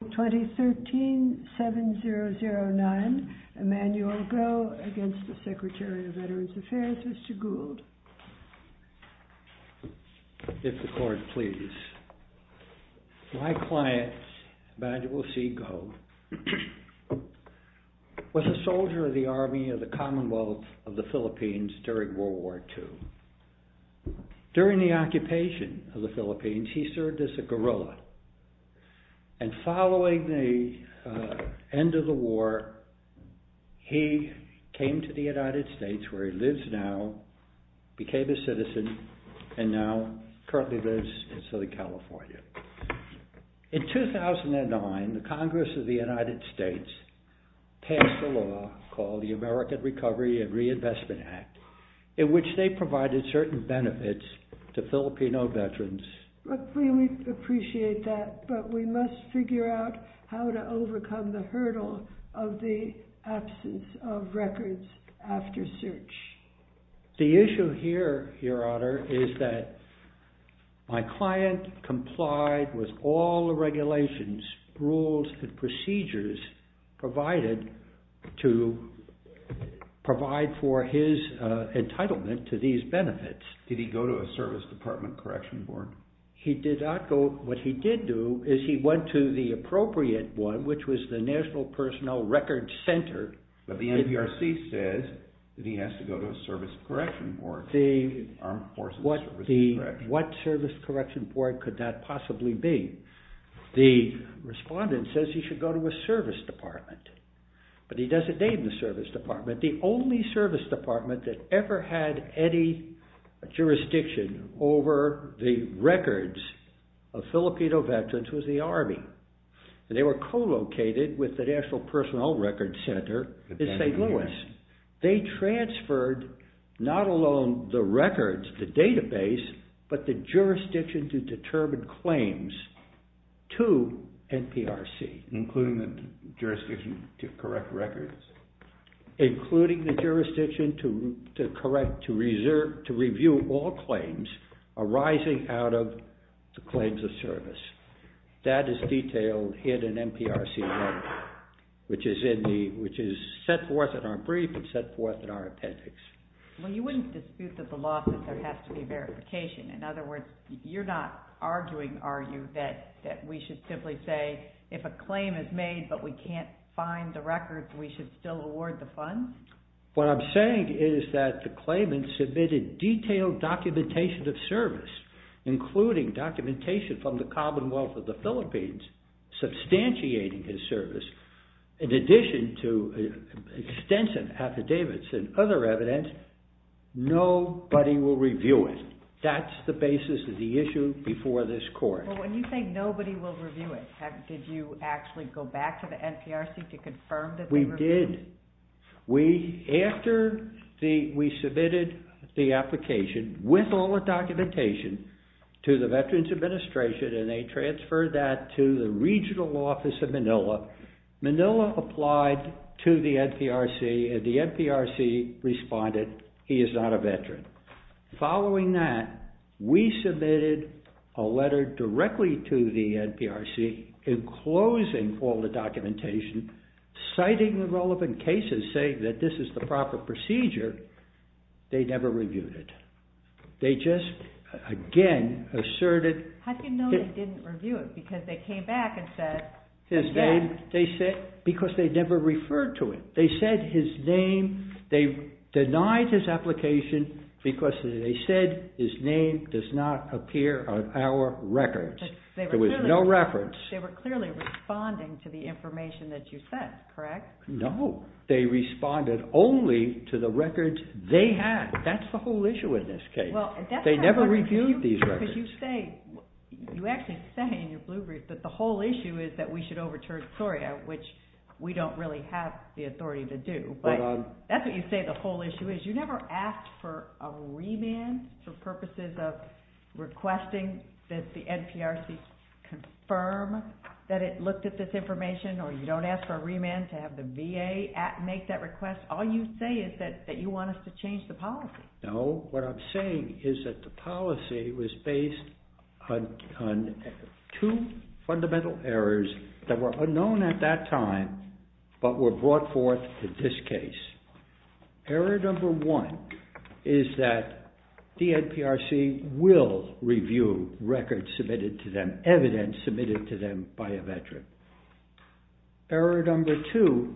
My client, Emmanuel C. Goh, was a soldier of the Army of the Commonwealth of the Philippines during World War II. During the occupation of the Philippines, he served as a guerrilla, and following the end of the war, he came to the United States where he lives now, became a citizen, and now currently lives in Southern California. In 2009, the Congress of the United States passed a law called the American Recovery and Reinvestment Act in which they provided certain benefits to Filipino veterans. We appreciate that, but we must figure out how to overcome the hurdle of the absence of records after search. The issue here, Your Honor, is that my client complied with all the regulations, rules, and procedures provided to provide for his entitlement to these benefits. Did he go to a service department correction board? He did not go. What he did do is he went to the appropriate one, which was the National Personnel Records Center. But the NPRC says that he has to go to a service correction board. What service correction board could that possibly be? The respondent says he should go to a service department, but he doesn't name the service department. The only service department that ever had any jurisdiction over the records of Filipino veterans was the Army. They were co-located with the National Personnel Records Center in St. Louis. They transferred not alone the records, the database, but the jurisdiction to determine claims to NPRC. Including the jurisdiction to correct records? Including the jurisdiction to review all claims arising out of the claims of service. That is detailed in an NPRC letter, which is set forth in our brief and set forth in our appendix. Well, you wouldn't dispute that the law says there has to be verification. In other words, you're not arguing, are you, that we should simply say, if a claim is made but we can't find the records, we should still award the funds? What I'm saying is that the claimant submitted detailed documentation of service, including documentation from the Commonwealth of the Philippines, substantiating his service, in addition to extensive affidavits and other evidence, nobody will review it. That's the basis of the issue before this court. When you say nobody will review it, did you actually go back to the NPRC to confirm that they reviewed it? We did. After we submitted the application with all the documentation to the Veterans Administration and they transferred that to the regional office of Manila, Manila applied to the NPRC and the NPRC responded, he is not a veteran. Following that, we submitted a letter directly to the NPRC, enclosing all the documentation, citing the relevant cases, saying that this is the proper procedure, they never reviewed it. They just, again, asserted... How do you know they didn't review it? Because they came back and said... Because they never referred to it. They said his name, they denied his application because they said his name does not appear on our records. There was no reference. They were clearly responding to the information that you sent, correct? No. They responded only to the records they had. That's the whole issue in this case. They never reviewed these records. You actually say in your blue brief that the whole issue is that we should overturn SORYA, which we don't really have the authority to do, but that's what you say the whole issue is. You never asked for a remand for purposes of requesting that the NPRC confirm that it looked at this information, or you don't ask for a remand to have the VA make that request. All you say is that you want us to change the policy. No. What I'm saying is that the policy was based on two fundamental errors that were unknown at that time, but were brought forth in this case. Error number one is that the NPRC will review records submitted to them, evidence submitted to them by a veteran. Error number two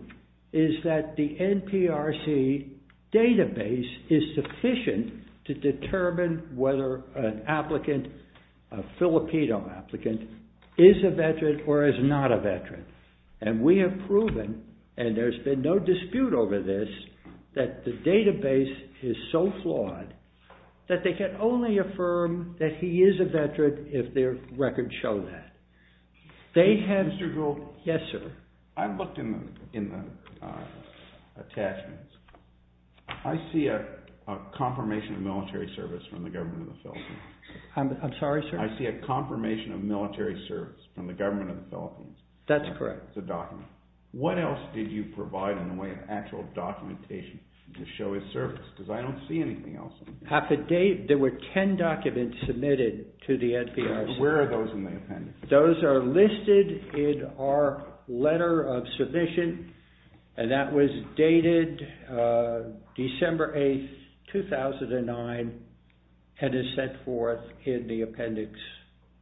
is that the NPRC database is sufficient to determine whether an applicant, a Filipino applicant, is a veteran or is not a veteran. And we have proven, and there's been no dispute over this, that the database is so flawed that they can only affirm that he is a veteran if their records show that. Mr. Jewell? Yes, sir. I looked in the attachments. I see a confirmation of military service from the government of the Philippines. I'm sorry, sir? I see a confirmation of military service from the government of the Philippines. That's correct. It's a document. What else did you provide in the way of actual documentation to show his service? Because I don't see anything else. There were 10 documents submitted to the NPRC. Where are those in the appendix? Those are listed in our letter of submission, and that was dated December 8, 2009, and is set forth in the appendix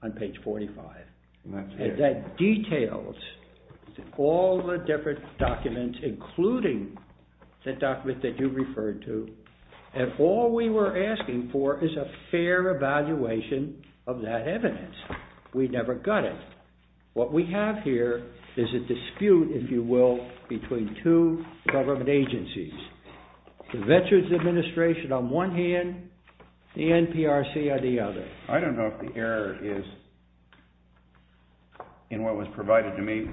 on page 45. And that details all the different documents, including the document that you referred to, and all we were asking for is a fair evaluation of that evidence. We never got it. What we have here is a dispute, if you will, between two government agencies, the Veterans Administration on one hand, the NPRC on the other. I don't know if the error is in what was provided to me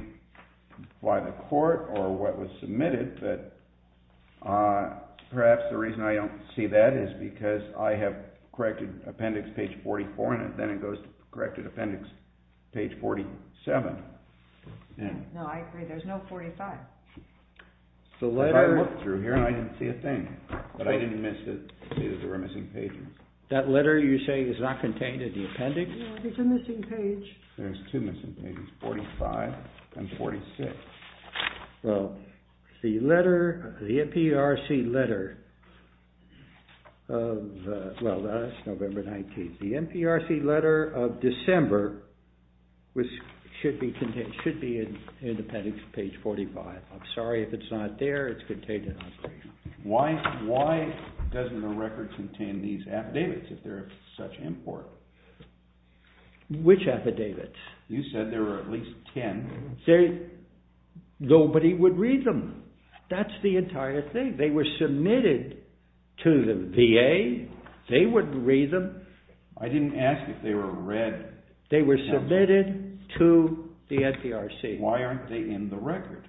by the court or what was submitted, but perhaps the reason I don't see that is because I have corrected appendix page 44, and then it goes to corrected appendix page 47. No, I agree. There's no 45. If I looked through here, I didn't see a thing, but I didn't see that there were missing pages. That letter you say is not contained in the appendix? No, there's a missing page. There's two missing pages, 45 and 46. Well, the NPRC letter of, well, that's November 19th. The NPRC letter of December should be in appendix page 45. I'm sorry if it's not there. It's contained in appendix 45. Why doesn't the record contain these affidavits if they're of such import? Which affidavits? You said there were at least 10. Nobody would read them. That's the entire thing. They were submitted to the VA. They wouldn't read them. I didn't ask if they were read. They were submitted to the NPRC. Why aren't they in the record?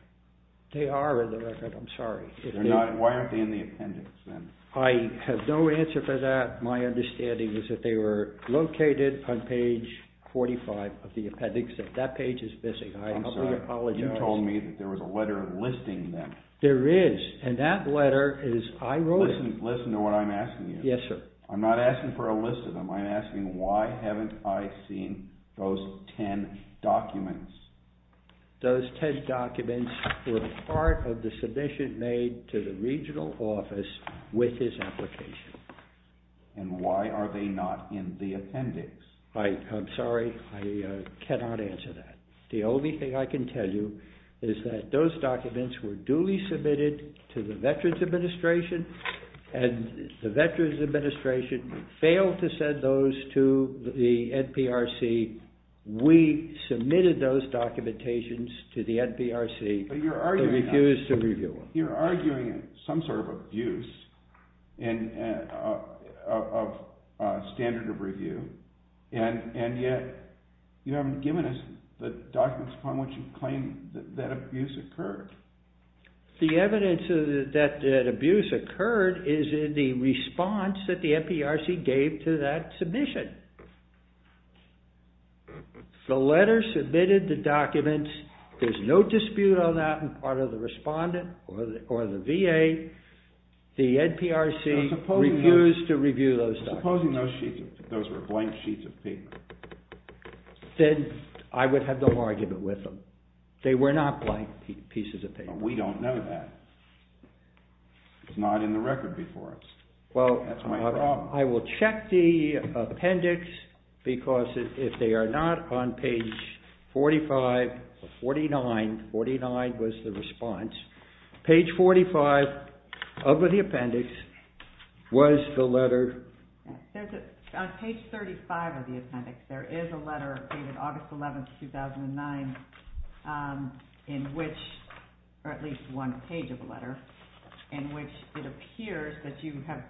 They are in the record. I'm sorry. Why aren't they in the appendix then? I have no answer for that. My understanding is that they were located on page 45 of the appendix. That page is missing. I apologize. I'm sorry. You told me that there was a letter listing them. There is, and that letter is I wrote it. Listen to what I'm asking you. Yes, sir. I'm not asking for a list of them. I'm asking why haven't I seen those 10 documents? Those 10 documents were part of the submission made to the regional office with his application. And why are they not in the appendix? I'm sorry. I cannot answer that. The only thing I can tell you is that those documents were duly submitted to the Veterans Administration, and the Veterans Administration failed to send those to the NPRC. We submitted those documentations to the NPRC. They refused to review them. You're arguing some sort of abuse of standard of review, and yet you haven't given us the documents upon which you claim that abuse occurred. The evidence that abuse occurred is in the response that the NPRC gave to that submission. The letter submitted the documents. There's no dispute on that on part of the respondent or the VA. The NPRC refused to review those documents. Supposing those were blank sheets of paper. Then I would have no argument with them. They were not blank pieces of paper. We don't know that. It's not in the record before us. That's my problem. I will check the appendix because if they are not on page 45 or 49, 49 was the response. Page 45 of the appendix was the letter. On page 35 of the appendix, there is a letter dated August 11, 2009, in which, or at least one page of the letter, in which it appears that you have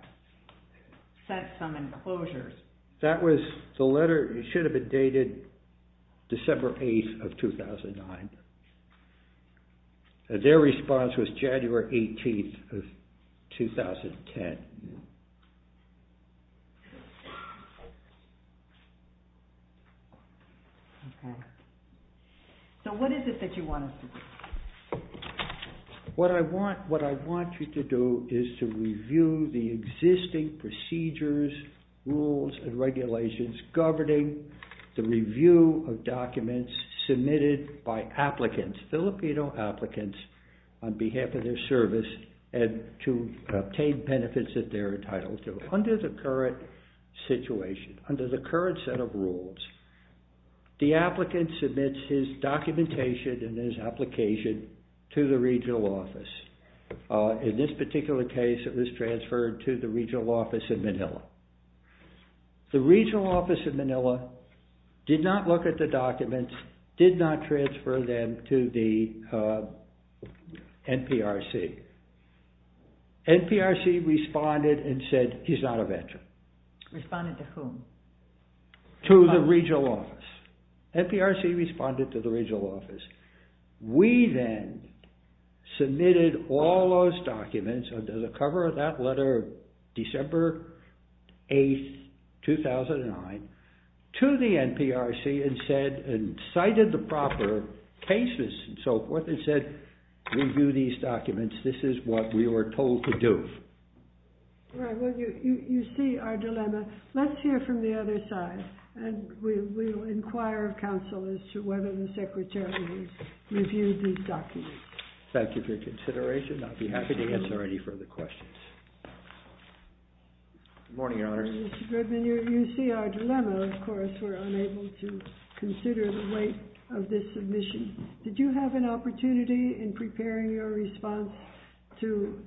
set some enclosures. That was the letter. It should have been dated December 8, 2009. Their response was January 18, 2010. What I want you to do is to review the existing procedures, rules, and regulations governing the review of documents submitted by applicants, Filipino applicants, on behalf of their service and to obtain benefits that they're entitled to. Under the current situation, under the current set of rules, the applicant submits his documentation and his application to the regional office. In this particular case, it was transferred to the regional office in Manila. The regional office in Manila did not look at the documents, did not transfer them to the NPRC. NPRC responded and said, he's not a veteran. Responded to whom? To the regional office. NPRC responded to the regional office. We then submitted all those documents, under the cover of that letter, December 8, 2009, to the NPRC and cited the proper cases and so forth and said, review these documents. This is what we were told to do. You see our dilemma. Let's hear from the other side, and we will inquire of counsel as to whether the secretary has reviewed these documents. Thank you for your consideration. I'll be happy to answer any further questions. Good morning, Your Honor. Mr. Goodman, you see our dilemma, of course. We're unable to consider the weight of this submission. Did you have an opportunity in preparing your response to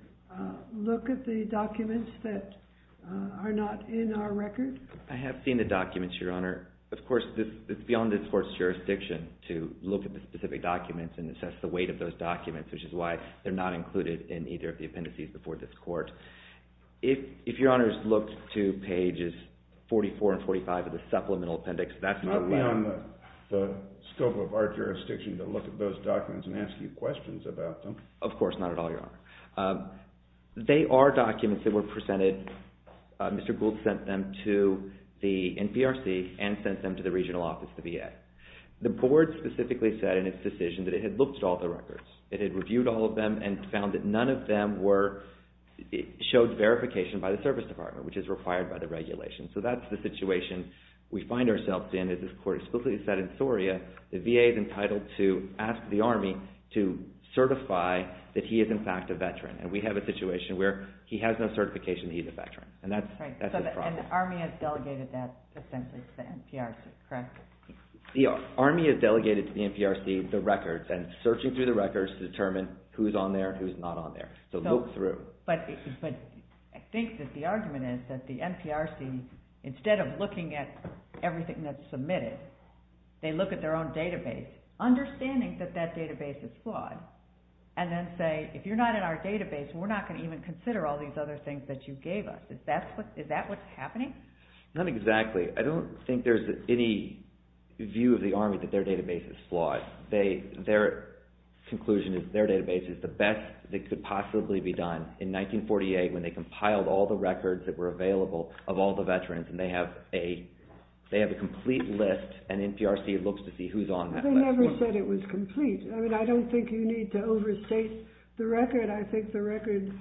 look at the documents that are not in our record? I have seen the documents, Your Honor. Of course, it's beyond this court's jurisdiction to look at the specific documents and assess the weight of those documents, which is why they're not included in either of the appendices before this court. If Your Honor has looked to pages 44 and 45 of the supplemental appendix, that's not allowed. It's not beyond the scope of our jurisdiction to look at those documents and ask you questions about them. Of course, not at all, Your Honor. They are documents that were presented. Mr. Gould sent them to the NPRC and sent them to the regional office, the VA. The board specifically said in its decision that it had looked at all the records. It had reviewed all of them and found that none of them showed verification by the service department, which is required by the regulations. So that's the situation we find ourselves in. As this court explicitly said in Soria, the VA is entitled to ask the Army to certify that he is in fact a veteran. And we have a situation where he has no certification that he's a veteran. And that's the problem. And the Army has delegated that, essentially, to the NPRC, correct? The Army has delegated to the NPRC the records and searching through the records to determine who's on there and who's not on there. So look through. But I think that the argument is that the NPRC, instead of looking at everything that's submitted, they look at their own database, understanding that that database is flawed, and then say, if you're not in our database, we're not going to even consider all these other things that you gave us. Is that what's happening? Not exactly. I don't think there's any view of the Army that their database is flawed. Their conclusion is their database is the best that could possibly be done. In 1948, when they compiled all the records that were available of all the veterans, and they have a complete list, and NPRC looks to see who's on that list. They never said it was complete. I mean, I don't think you need to overstate the record. I think the record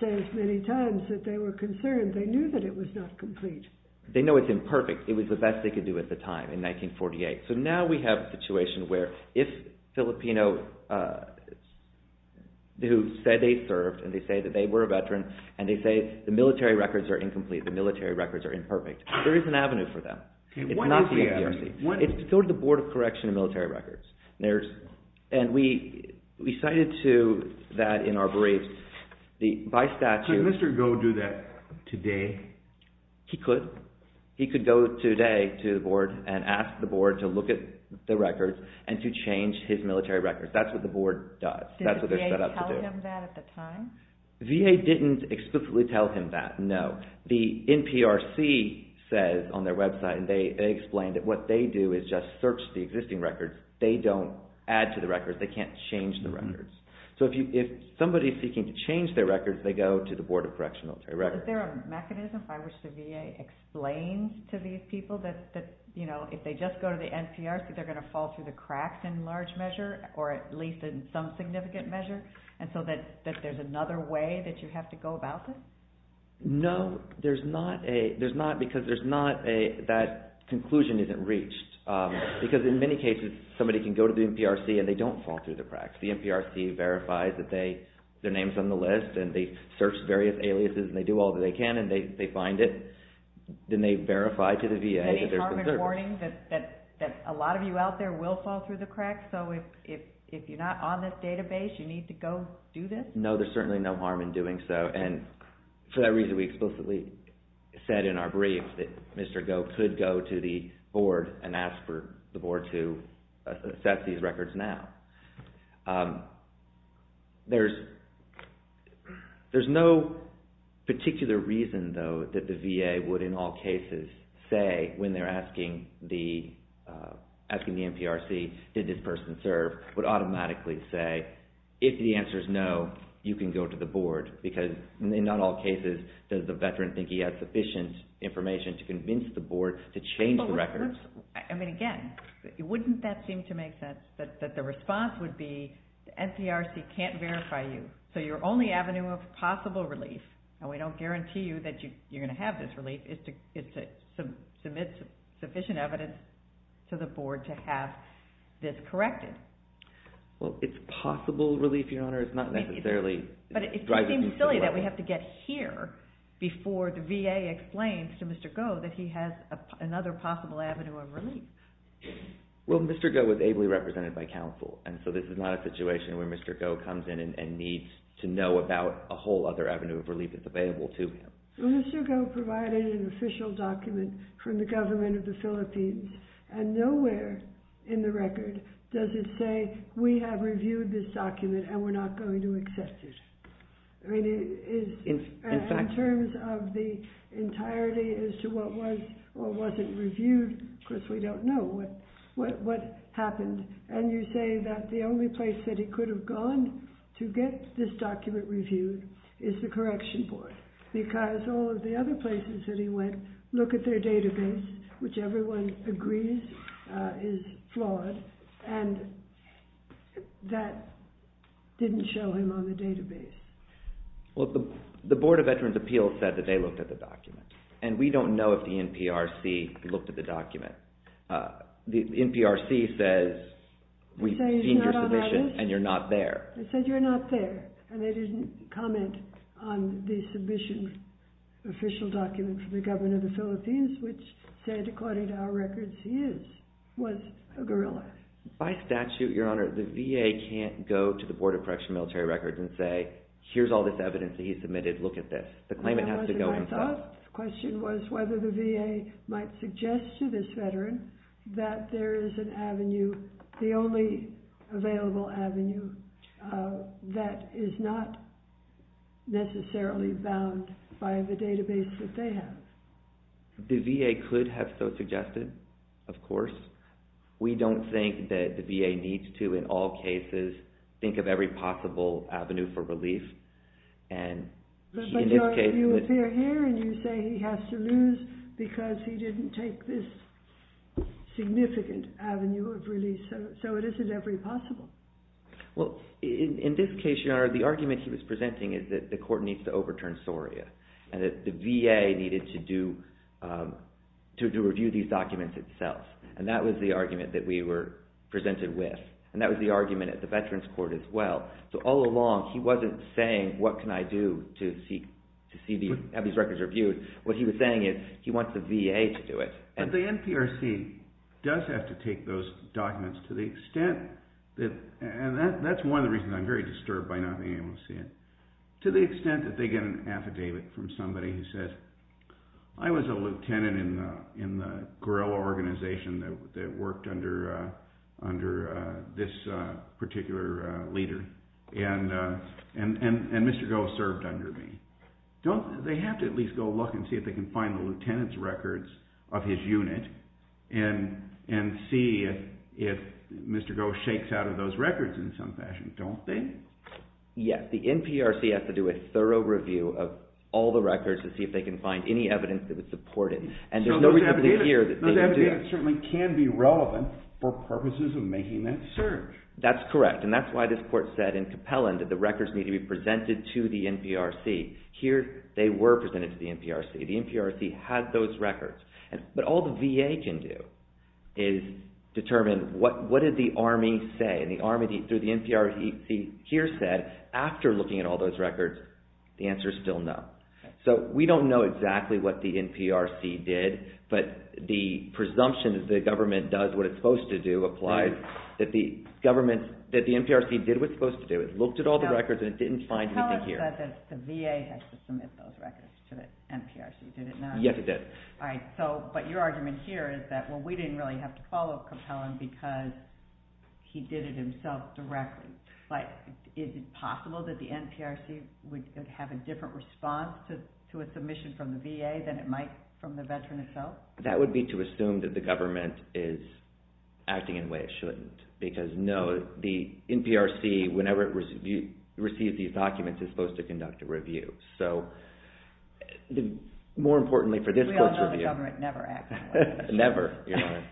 says many times that they were concerned. They knew that it was not complete. They know it's imperfect. It was the best they could do at the time, in 1948. So now we have a situation where, if Filipinos who said they served, and they say that they were a veteran, and they say the military records are incomplete, the military records are imperfect, there is an avenue for them. It's not the NPRC. It's sort of the Board of Correction and Military Records. And we cited to that in our brief. By statute... Could Mr. Goh do that today? He could. He could go today to the Board and ask the Board to look at the records and to change his military records. That's what the Board does. That's what they're set up to do. Did the VA tell him that at the time? VA didn't explicitly tell him that, no. The NPRC says on their website, and they explain that what they do is just search the existing records. They don't add to the records. They can't change the records. So if somebody is seeking to change their records, they go to the Board of Correction and Military Records. Is there a mechanism by which the VA explains to these people that if they just go to the NPRC, they're going to fall through the cracks in large measure, or at least in some significant measure, and so that there's another way that you have to go about this? No, there's not, because that conclusion isn't reached. Because in many cases, somebody can go to the NPRC and they don't fall through the cracks. The NPRC verifies that their name is on the list and they search various aliases and they do all that they can and they find it. Then they verify to the VA that there's been service. Any harm in warning that a lot of you out there will fall through the cracks? So if you're not on this database, you need to go do this? No, there's certainly no harm in doing so. And for that reason, we explicitly said in our brief that Mr. Goh could go to the board and ask for the board to assess these records now. There's no particular reason, though, that the VA would in all cases say when they're asking the NPRC, did this person serve, would automatically say, if the answer is no, you can go to the board, because in not all cases does the veteran think that he has sufficient information to convince the board to change the records. I mean, again, wouldn't that seem to make sense, that the response would be the NPRC can't verify you, so your only avenue of possible relief, and we don't guarantee you that you're going to have this relief, is to submit sufficient evidence to the board to have this corrected. Well, it's possible relief, Your Honor. It's not necessarily driving to the record. But it seems silly that we have to get here before the VA explains to Mr. Goh that he has another possible avenue of relief. Well, Mr. Goh was ably represented by counsel, and so this is not a situation where Mr. Goh comes in and needs to know about a whole other avenue of relief that's available to him. Well, Mr. Goh provided an official document from the government of the Philippines, and nowhere in the record does it say, we have reviewed this document and we're not going to accept it. In terms of the entirety as to what was or wasn't reviewed, because we don't know what happened, and you say that the only place that he could have gone to get this document reviewed is the correction board, because all of the other places that he went, look at their database, which everyone agrees is flawed, and that didn't show him on the database. Well, the Board of Veterans Appeals said that they looked at the document, and we don't know if the NPRC looked at the document. The NPRC says we've seen your submission, and you're not there. They said you're not there, and they didn't comment on the submission official document from the government of the Philippines, which said, according to our records, he was a guerrilla. By statute, Your Honor, the VA can't go to the Board of Correctional Military Records and say, here's all this evidence that he submitted, look at this. The claimant has to go himself. My thought question was whether the VA might suggest to this veteran that there is an avenue, the only available avenue, that is not necessarily bound by the database that they have. The VA could have so suggested, of course. We don't think that the VA needs to, in all cases, think of every possible avenue for relief. But, Your Honor, you appear here, and you say he has to lose because he didn't take this significant avenue of relief, so it isn't every possible. Well, in this case, Your Honor, the argument he was presenting is that the court needs to overturn SORIA, and that the VA needed to do, to review these documents itself. And that was the argument that we were presented with. And that was the argument at the Veterans Court as well. So all along, he wasn't saying, what can I do to have these records reviewed? What he was saying is, he wants the VA to do it. But the NPRC does have to take those documents to the extent that, and that's one of the reasons I'm very disturbed by not being able to see it, to the extent that they get an affidavit from somebody who says, I was a lieutenant in the guerrilla organization that worked under this particular leader, and Mr. Goh served under me. Don't they have to at least go look and see if they can find the lieutenant's records of his unit, and see if Mr. Goh shakes out of those records in some fashion, don't they? Yes, the NPRC has to do a thorough review of all the records to see if they can find any evidence that would support it. And there's no evidence here that they can do that. Those affidavits certainly can be relevant for purposes of making that search. That's correct. And that's why this court said in Capellan that the records need to be presented to the NPRC. Here, they were presented to the NPRC. The NPRC has those records. But all the VA can do is determine, what did the Army say? And the Army, through the NPRC here, said after looking at all those records, the answer is still no. So we don't know exactly what the NPRC did, but the presumption that the government does what it's supposed to do applies, that the NPRC did what it's supposed to do. It looked at all the records, and it didn't find anything here. Capellan said that the VA had to submit those records to the NPRC, did it not? Yes, it did. All right, but your argument here is that, well, we didn't really have to follow Capellan because he did it himself directly. But is it possible that the NPRC would have a different response to a submission from the VA than it might from the veteran himself? That would be to assume that the government is acting in a way it shouldn't. Because, no, the NPRC, whenever it receives these documents, is supposed to conduct a review. So more importantly for this court's review... We all know the government never acts in a way it shouldn't. Never.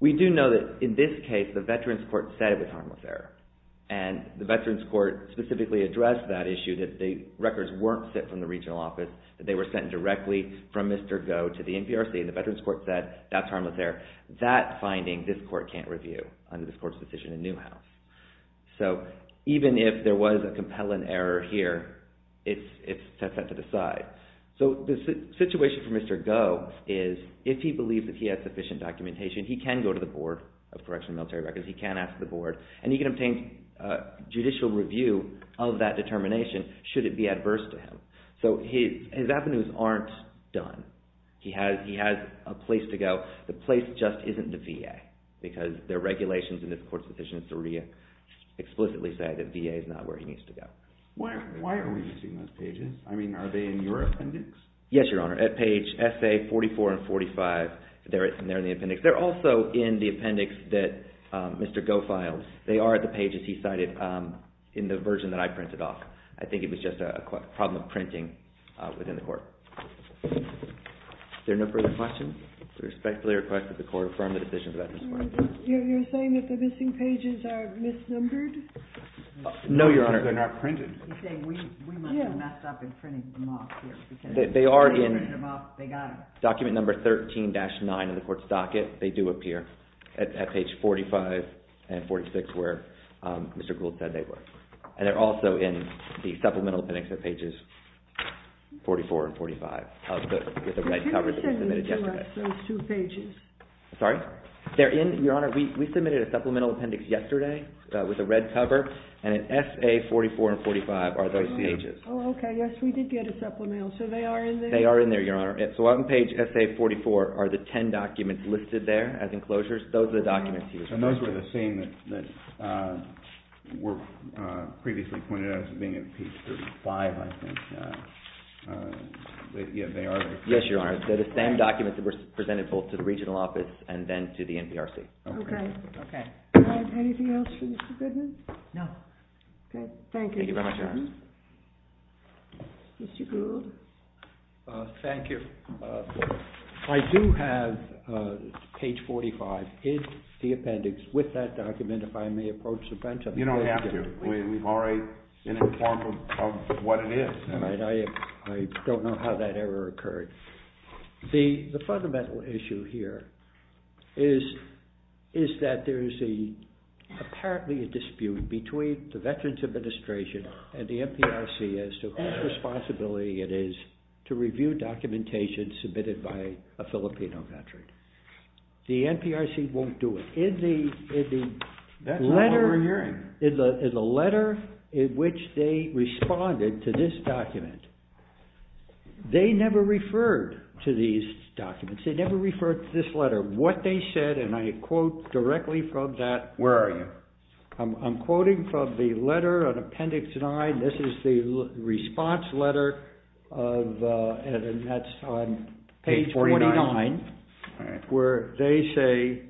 We do know that in this case, the veterans court said it was harmless error. And the veterans court specifically addressed that issue, that the records weren't sent from the regional office, that they were sent directly from Mr. Goh to the NPRC. And the veterans court said that's harmless error. That finding, this court can't review under this court's decision in Newhouse. So even if there was a Capellan error here, it's set to the side. So the situation for Mr. Goh is, if he believes that he has sufficient documentation, he can go to the Board of Correctional Military Records, he can ask the Board, and he can obtain judicial review of that determination should it be adverse to him. So his avenues aren't done. He has a place to go. The place just isn't the VA, because the regulations in this court's decision explicitly say that VA is not where he needs to go. Why are we using those pages? I mean, are they in your appendix? Yes, Your Honor. At page SA44 and 45, they're in the appendix. They're also in the appendix that Mr. Goh filed. They are the pages he cited in the version that I printed off. I think it was just a problem of printing within the court. Are there no further questions? We respectfully request that the court affirm the decision of the veterans court. You're saying that the missing pages are misnumbered? No, Your Honor. They're not printed. He's saying we must have messed up in printing them off. They are in document number 13-9 in the court's docket. They do appear at page 45 and 46, where Mr. Gould said they were. And they're also in the supplemental appendix at pages 44 and 45 with the red cover that we submitted yesterday. But who is sending to us those two pages? Sorry? They're in, Your Honor. We submitted a supplemental appendix yesterday with a red cover, and at SA44 and 45 are those pages. Oh, okay. Yes, we did get a supplemental. So they are in there? They are in there, Your Honor. So on page SA44 are the ten documents listed there as enclosures. Those are the documents he was presenting. And those were the same that were previously pointed out as being at page 35, I think. Yes, they are. Yes, Your Honor. They're the same documents that were presented both to the regional office and then to the NPRC. Okay. Okay. Anything else for Mr. Goodman? No. Okay. Thank you. Thank you very much, Your Honor. Mr. Goodman? Mr. Goodman? Thank you. I do have page 45 in the appendix with that document, if I may approach the bench. You don't have to. We've already been informed of what it is. All right. I don't know how that error occurred. The fundamental issue here is that there is apparently a dispute between the Veterans Administration and the NPRC as to whose responsibility it is to review documentation submitted by a Filipino veteran. The NPRC won't do it. That's not what we're hearing. In the letter in which they responded to this document, they never referred to these documents. They never referred to this letter. What they said, and I quote directly from that, Where are you? I'm quoting from the letter on appendix 9. This is the response letter, and that's on page 49, where they say,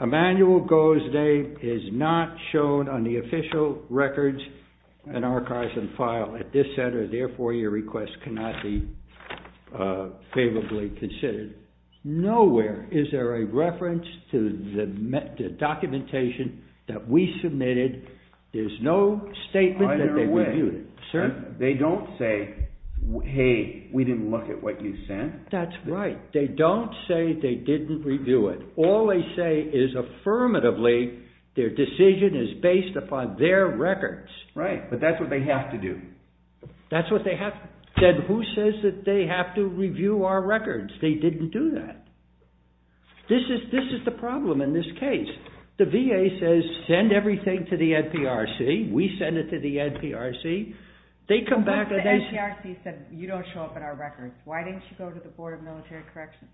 Emmanuel Gozde is not shown on the official records and archives and file at this center. Therefore, your request cannot be favorably considered. Nowhere is there a reference to the documentation that we submitted. There's no statement that they reviewed it. Either way, they don't say, Hey, we didn't look at what you sent. That's right. They don't say they didn't review it. All they say is, affirmatively, their decision is based upon their records. Right, but that's what they have to do. That's what they have to do. Then who says that they have to review our records? They didn't do that. This is the problem in this case. The VA says, send everything to the NPRC. We send it to the NPRC. What if the NPRC said, you don't show up in our records? Why didn't you go to the Board of Military Corrections?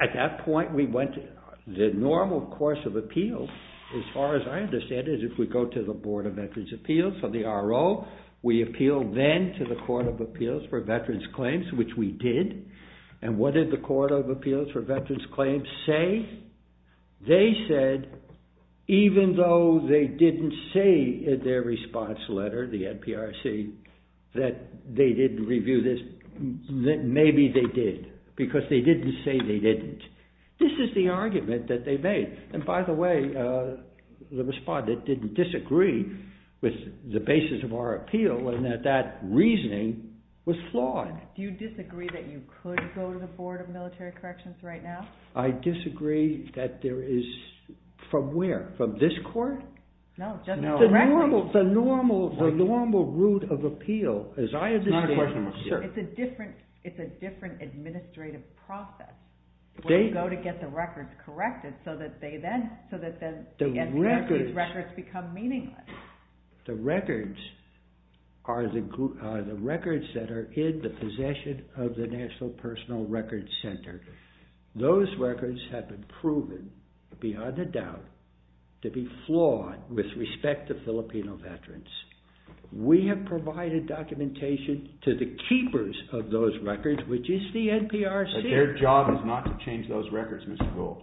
At that point, the normal course of appeal, as far as I understand it, is if we go to the Board of Veterans' Appeals, or the RO, we appeal then to the Court of Appeals for Veterans' Claims, which we did, and what did the Court of Appeals for Veterans' Claims say? They said, even though they didn't say in their response letter, the NPRC, that they didn't review this, that maybe they did, because they didn't say they didn't. This is the argument that they made, and by the way, the respondent didn't disagree with the basis of our appeal, and that that reasoning was flawed. Do you disagree that you could go to the Board of Military Corrections right now? I disagree that there is, from where? From this court? No, just the records. The normal route of appeal, as I understand it. It's a different administrative process, where you go to get the records corrected, so that the NPRC's records become meaningless. The records are the records that are in the possession of the National Personal Records Center. Those records have been proven, beyond a doubt, to be flawed with respect to Filipino veterans. We have provided documentation to the keepers of those records, which is the NPRC. But their job is not to change those records, Mr. Gould.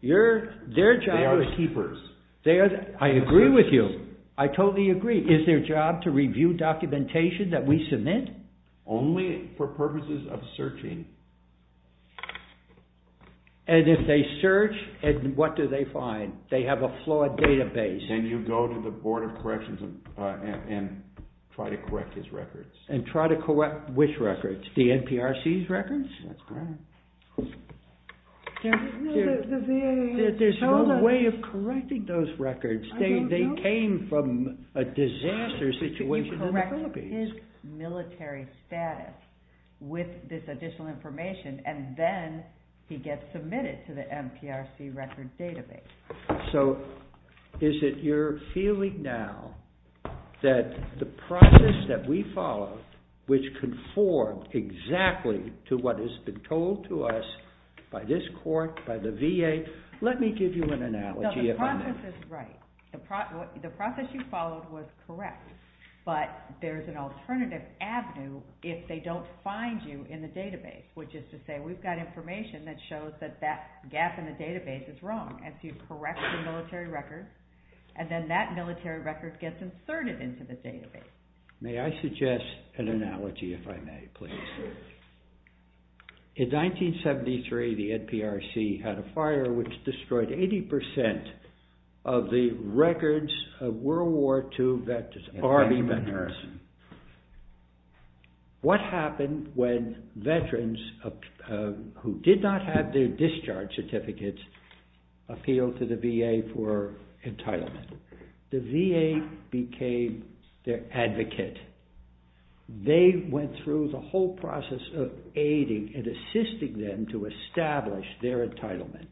They are the keepers. I agree with you. I totally agree. Is their job to review documentation that we submit? Only for purposes of searching. And if they search, what do they find? They have a flawed database. Then you go to the Board of Corrections and try to correct his records. And try to correct which records? The NPRC's records? That's correct. There's no way of correcting those records. They came from a disaster situation in the Philippines. ...his military status with this additional information, and then he gets submitted to the NPRC records database. So, is it your feeling now that the process that we followed, which conformed exactly to what has been told to us by this court, by the VA... Let me give you an analogy. The process is right. The process you followed was correct. But there's an alternative avenue if they don't find you in the database. Which is to say, we've got information that shows that that gap in the database is wrong. And so you correct the military records, and then that military record gets inserted into the database. May I suggest an analogy, if I may, please? In 1973, the NPRC had a fire which destroyed 80% of the records of World War II Army veterans. What happened when veterans who did not have their discharge certificates appealed to the VA for entitlement? The VA became their advocate. They went through the whole process of aiding and assisting them to establish their entitlement.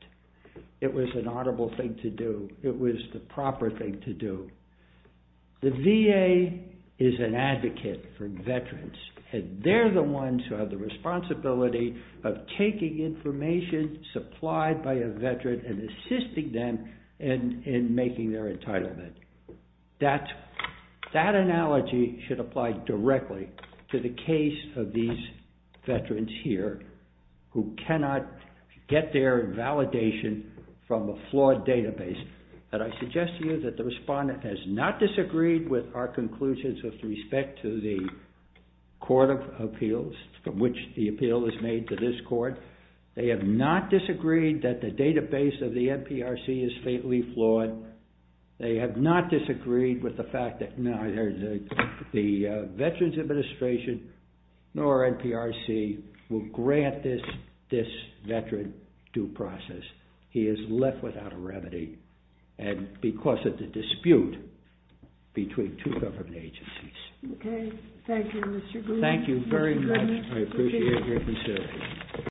It was an honorable thing to do. It was the proper thing to do. The VA is an advocate for veterans. And they're the ones who have the responsibility of taking information supplied by a veteran and assisting them in making their entitlement. That analogy should apply directly to the case of these veterans here who cannot get their validation from a flawed database. And I suggest to you that the respondent has not disagreed with our conclusions with respect to the court of appeals from which the appeal is made to this court. They have not disagreed that the database of the NPRC is faintly flawed. They have not disagreed with the fact that neither the Veterans Administration nor NPRC will grant this veteran due process. He is left without a remedy because of the dispute between two government agencies. Okay. Thank you, Mr. Gould. Thank you very much. I appreciate your consideration.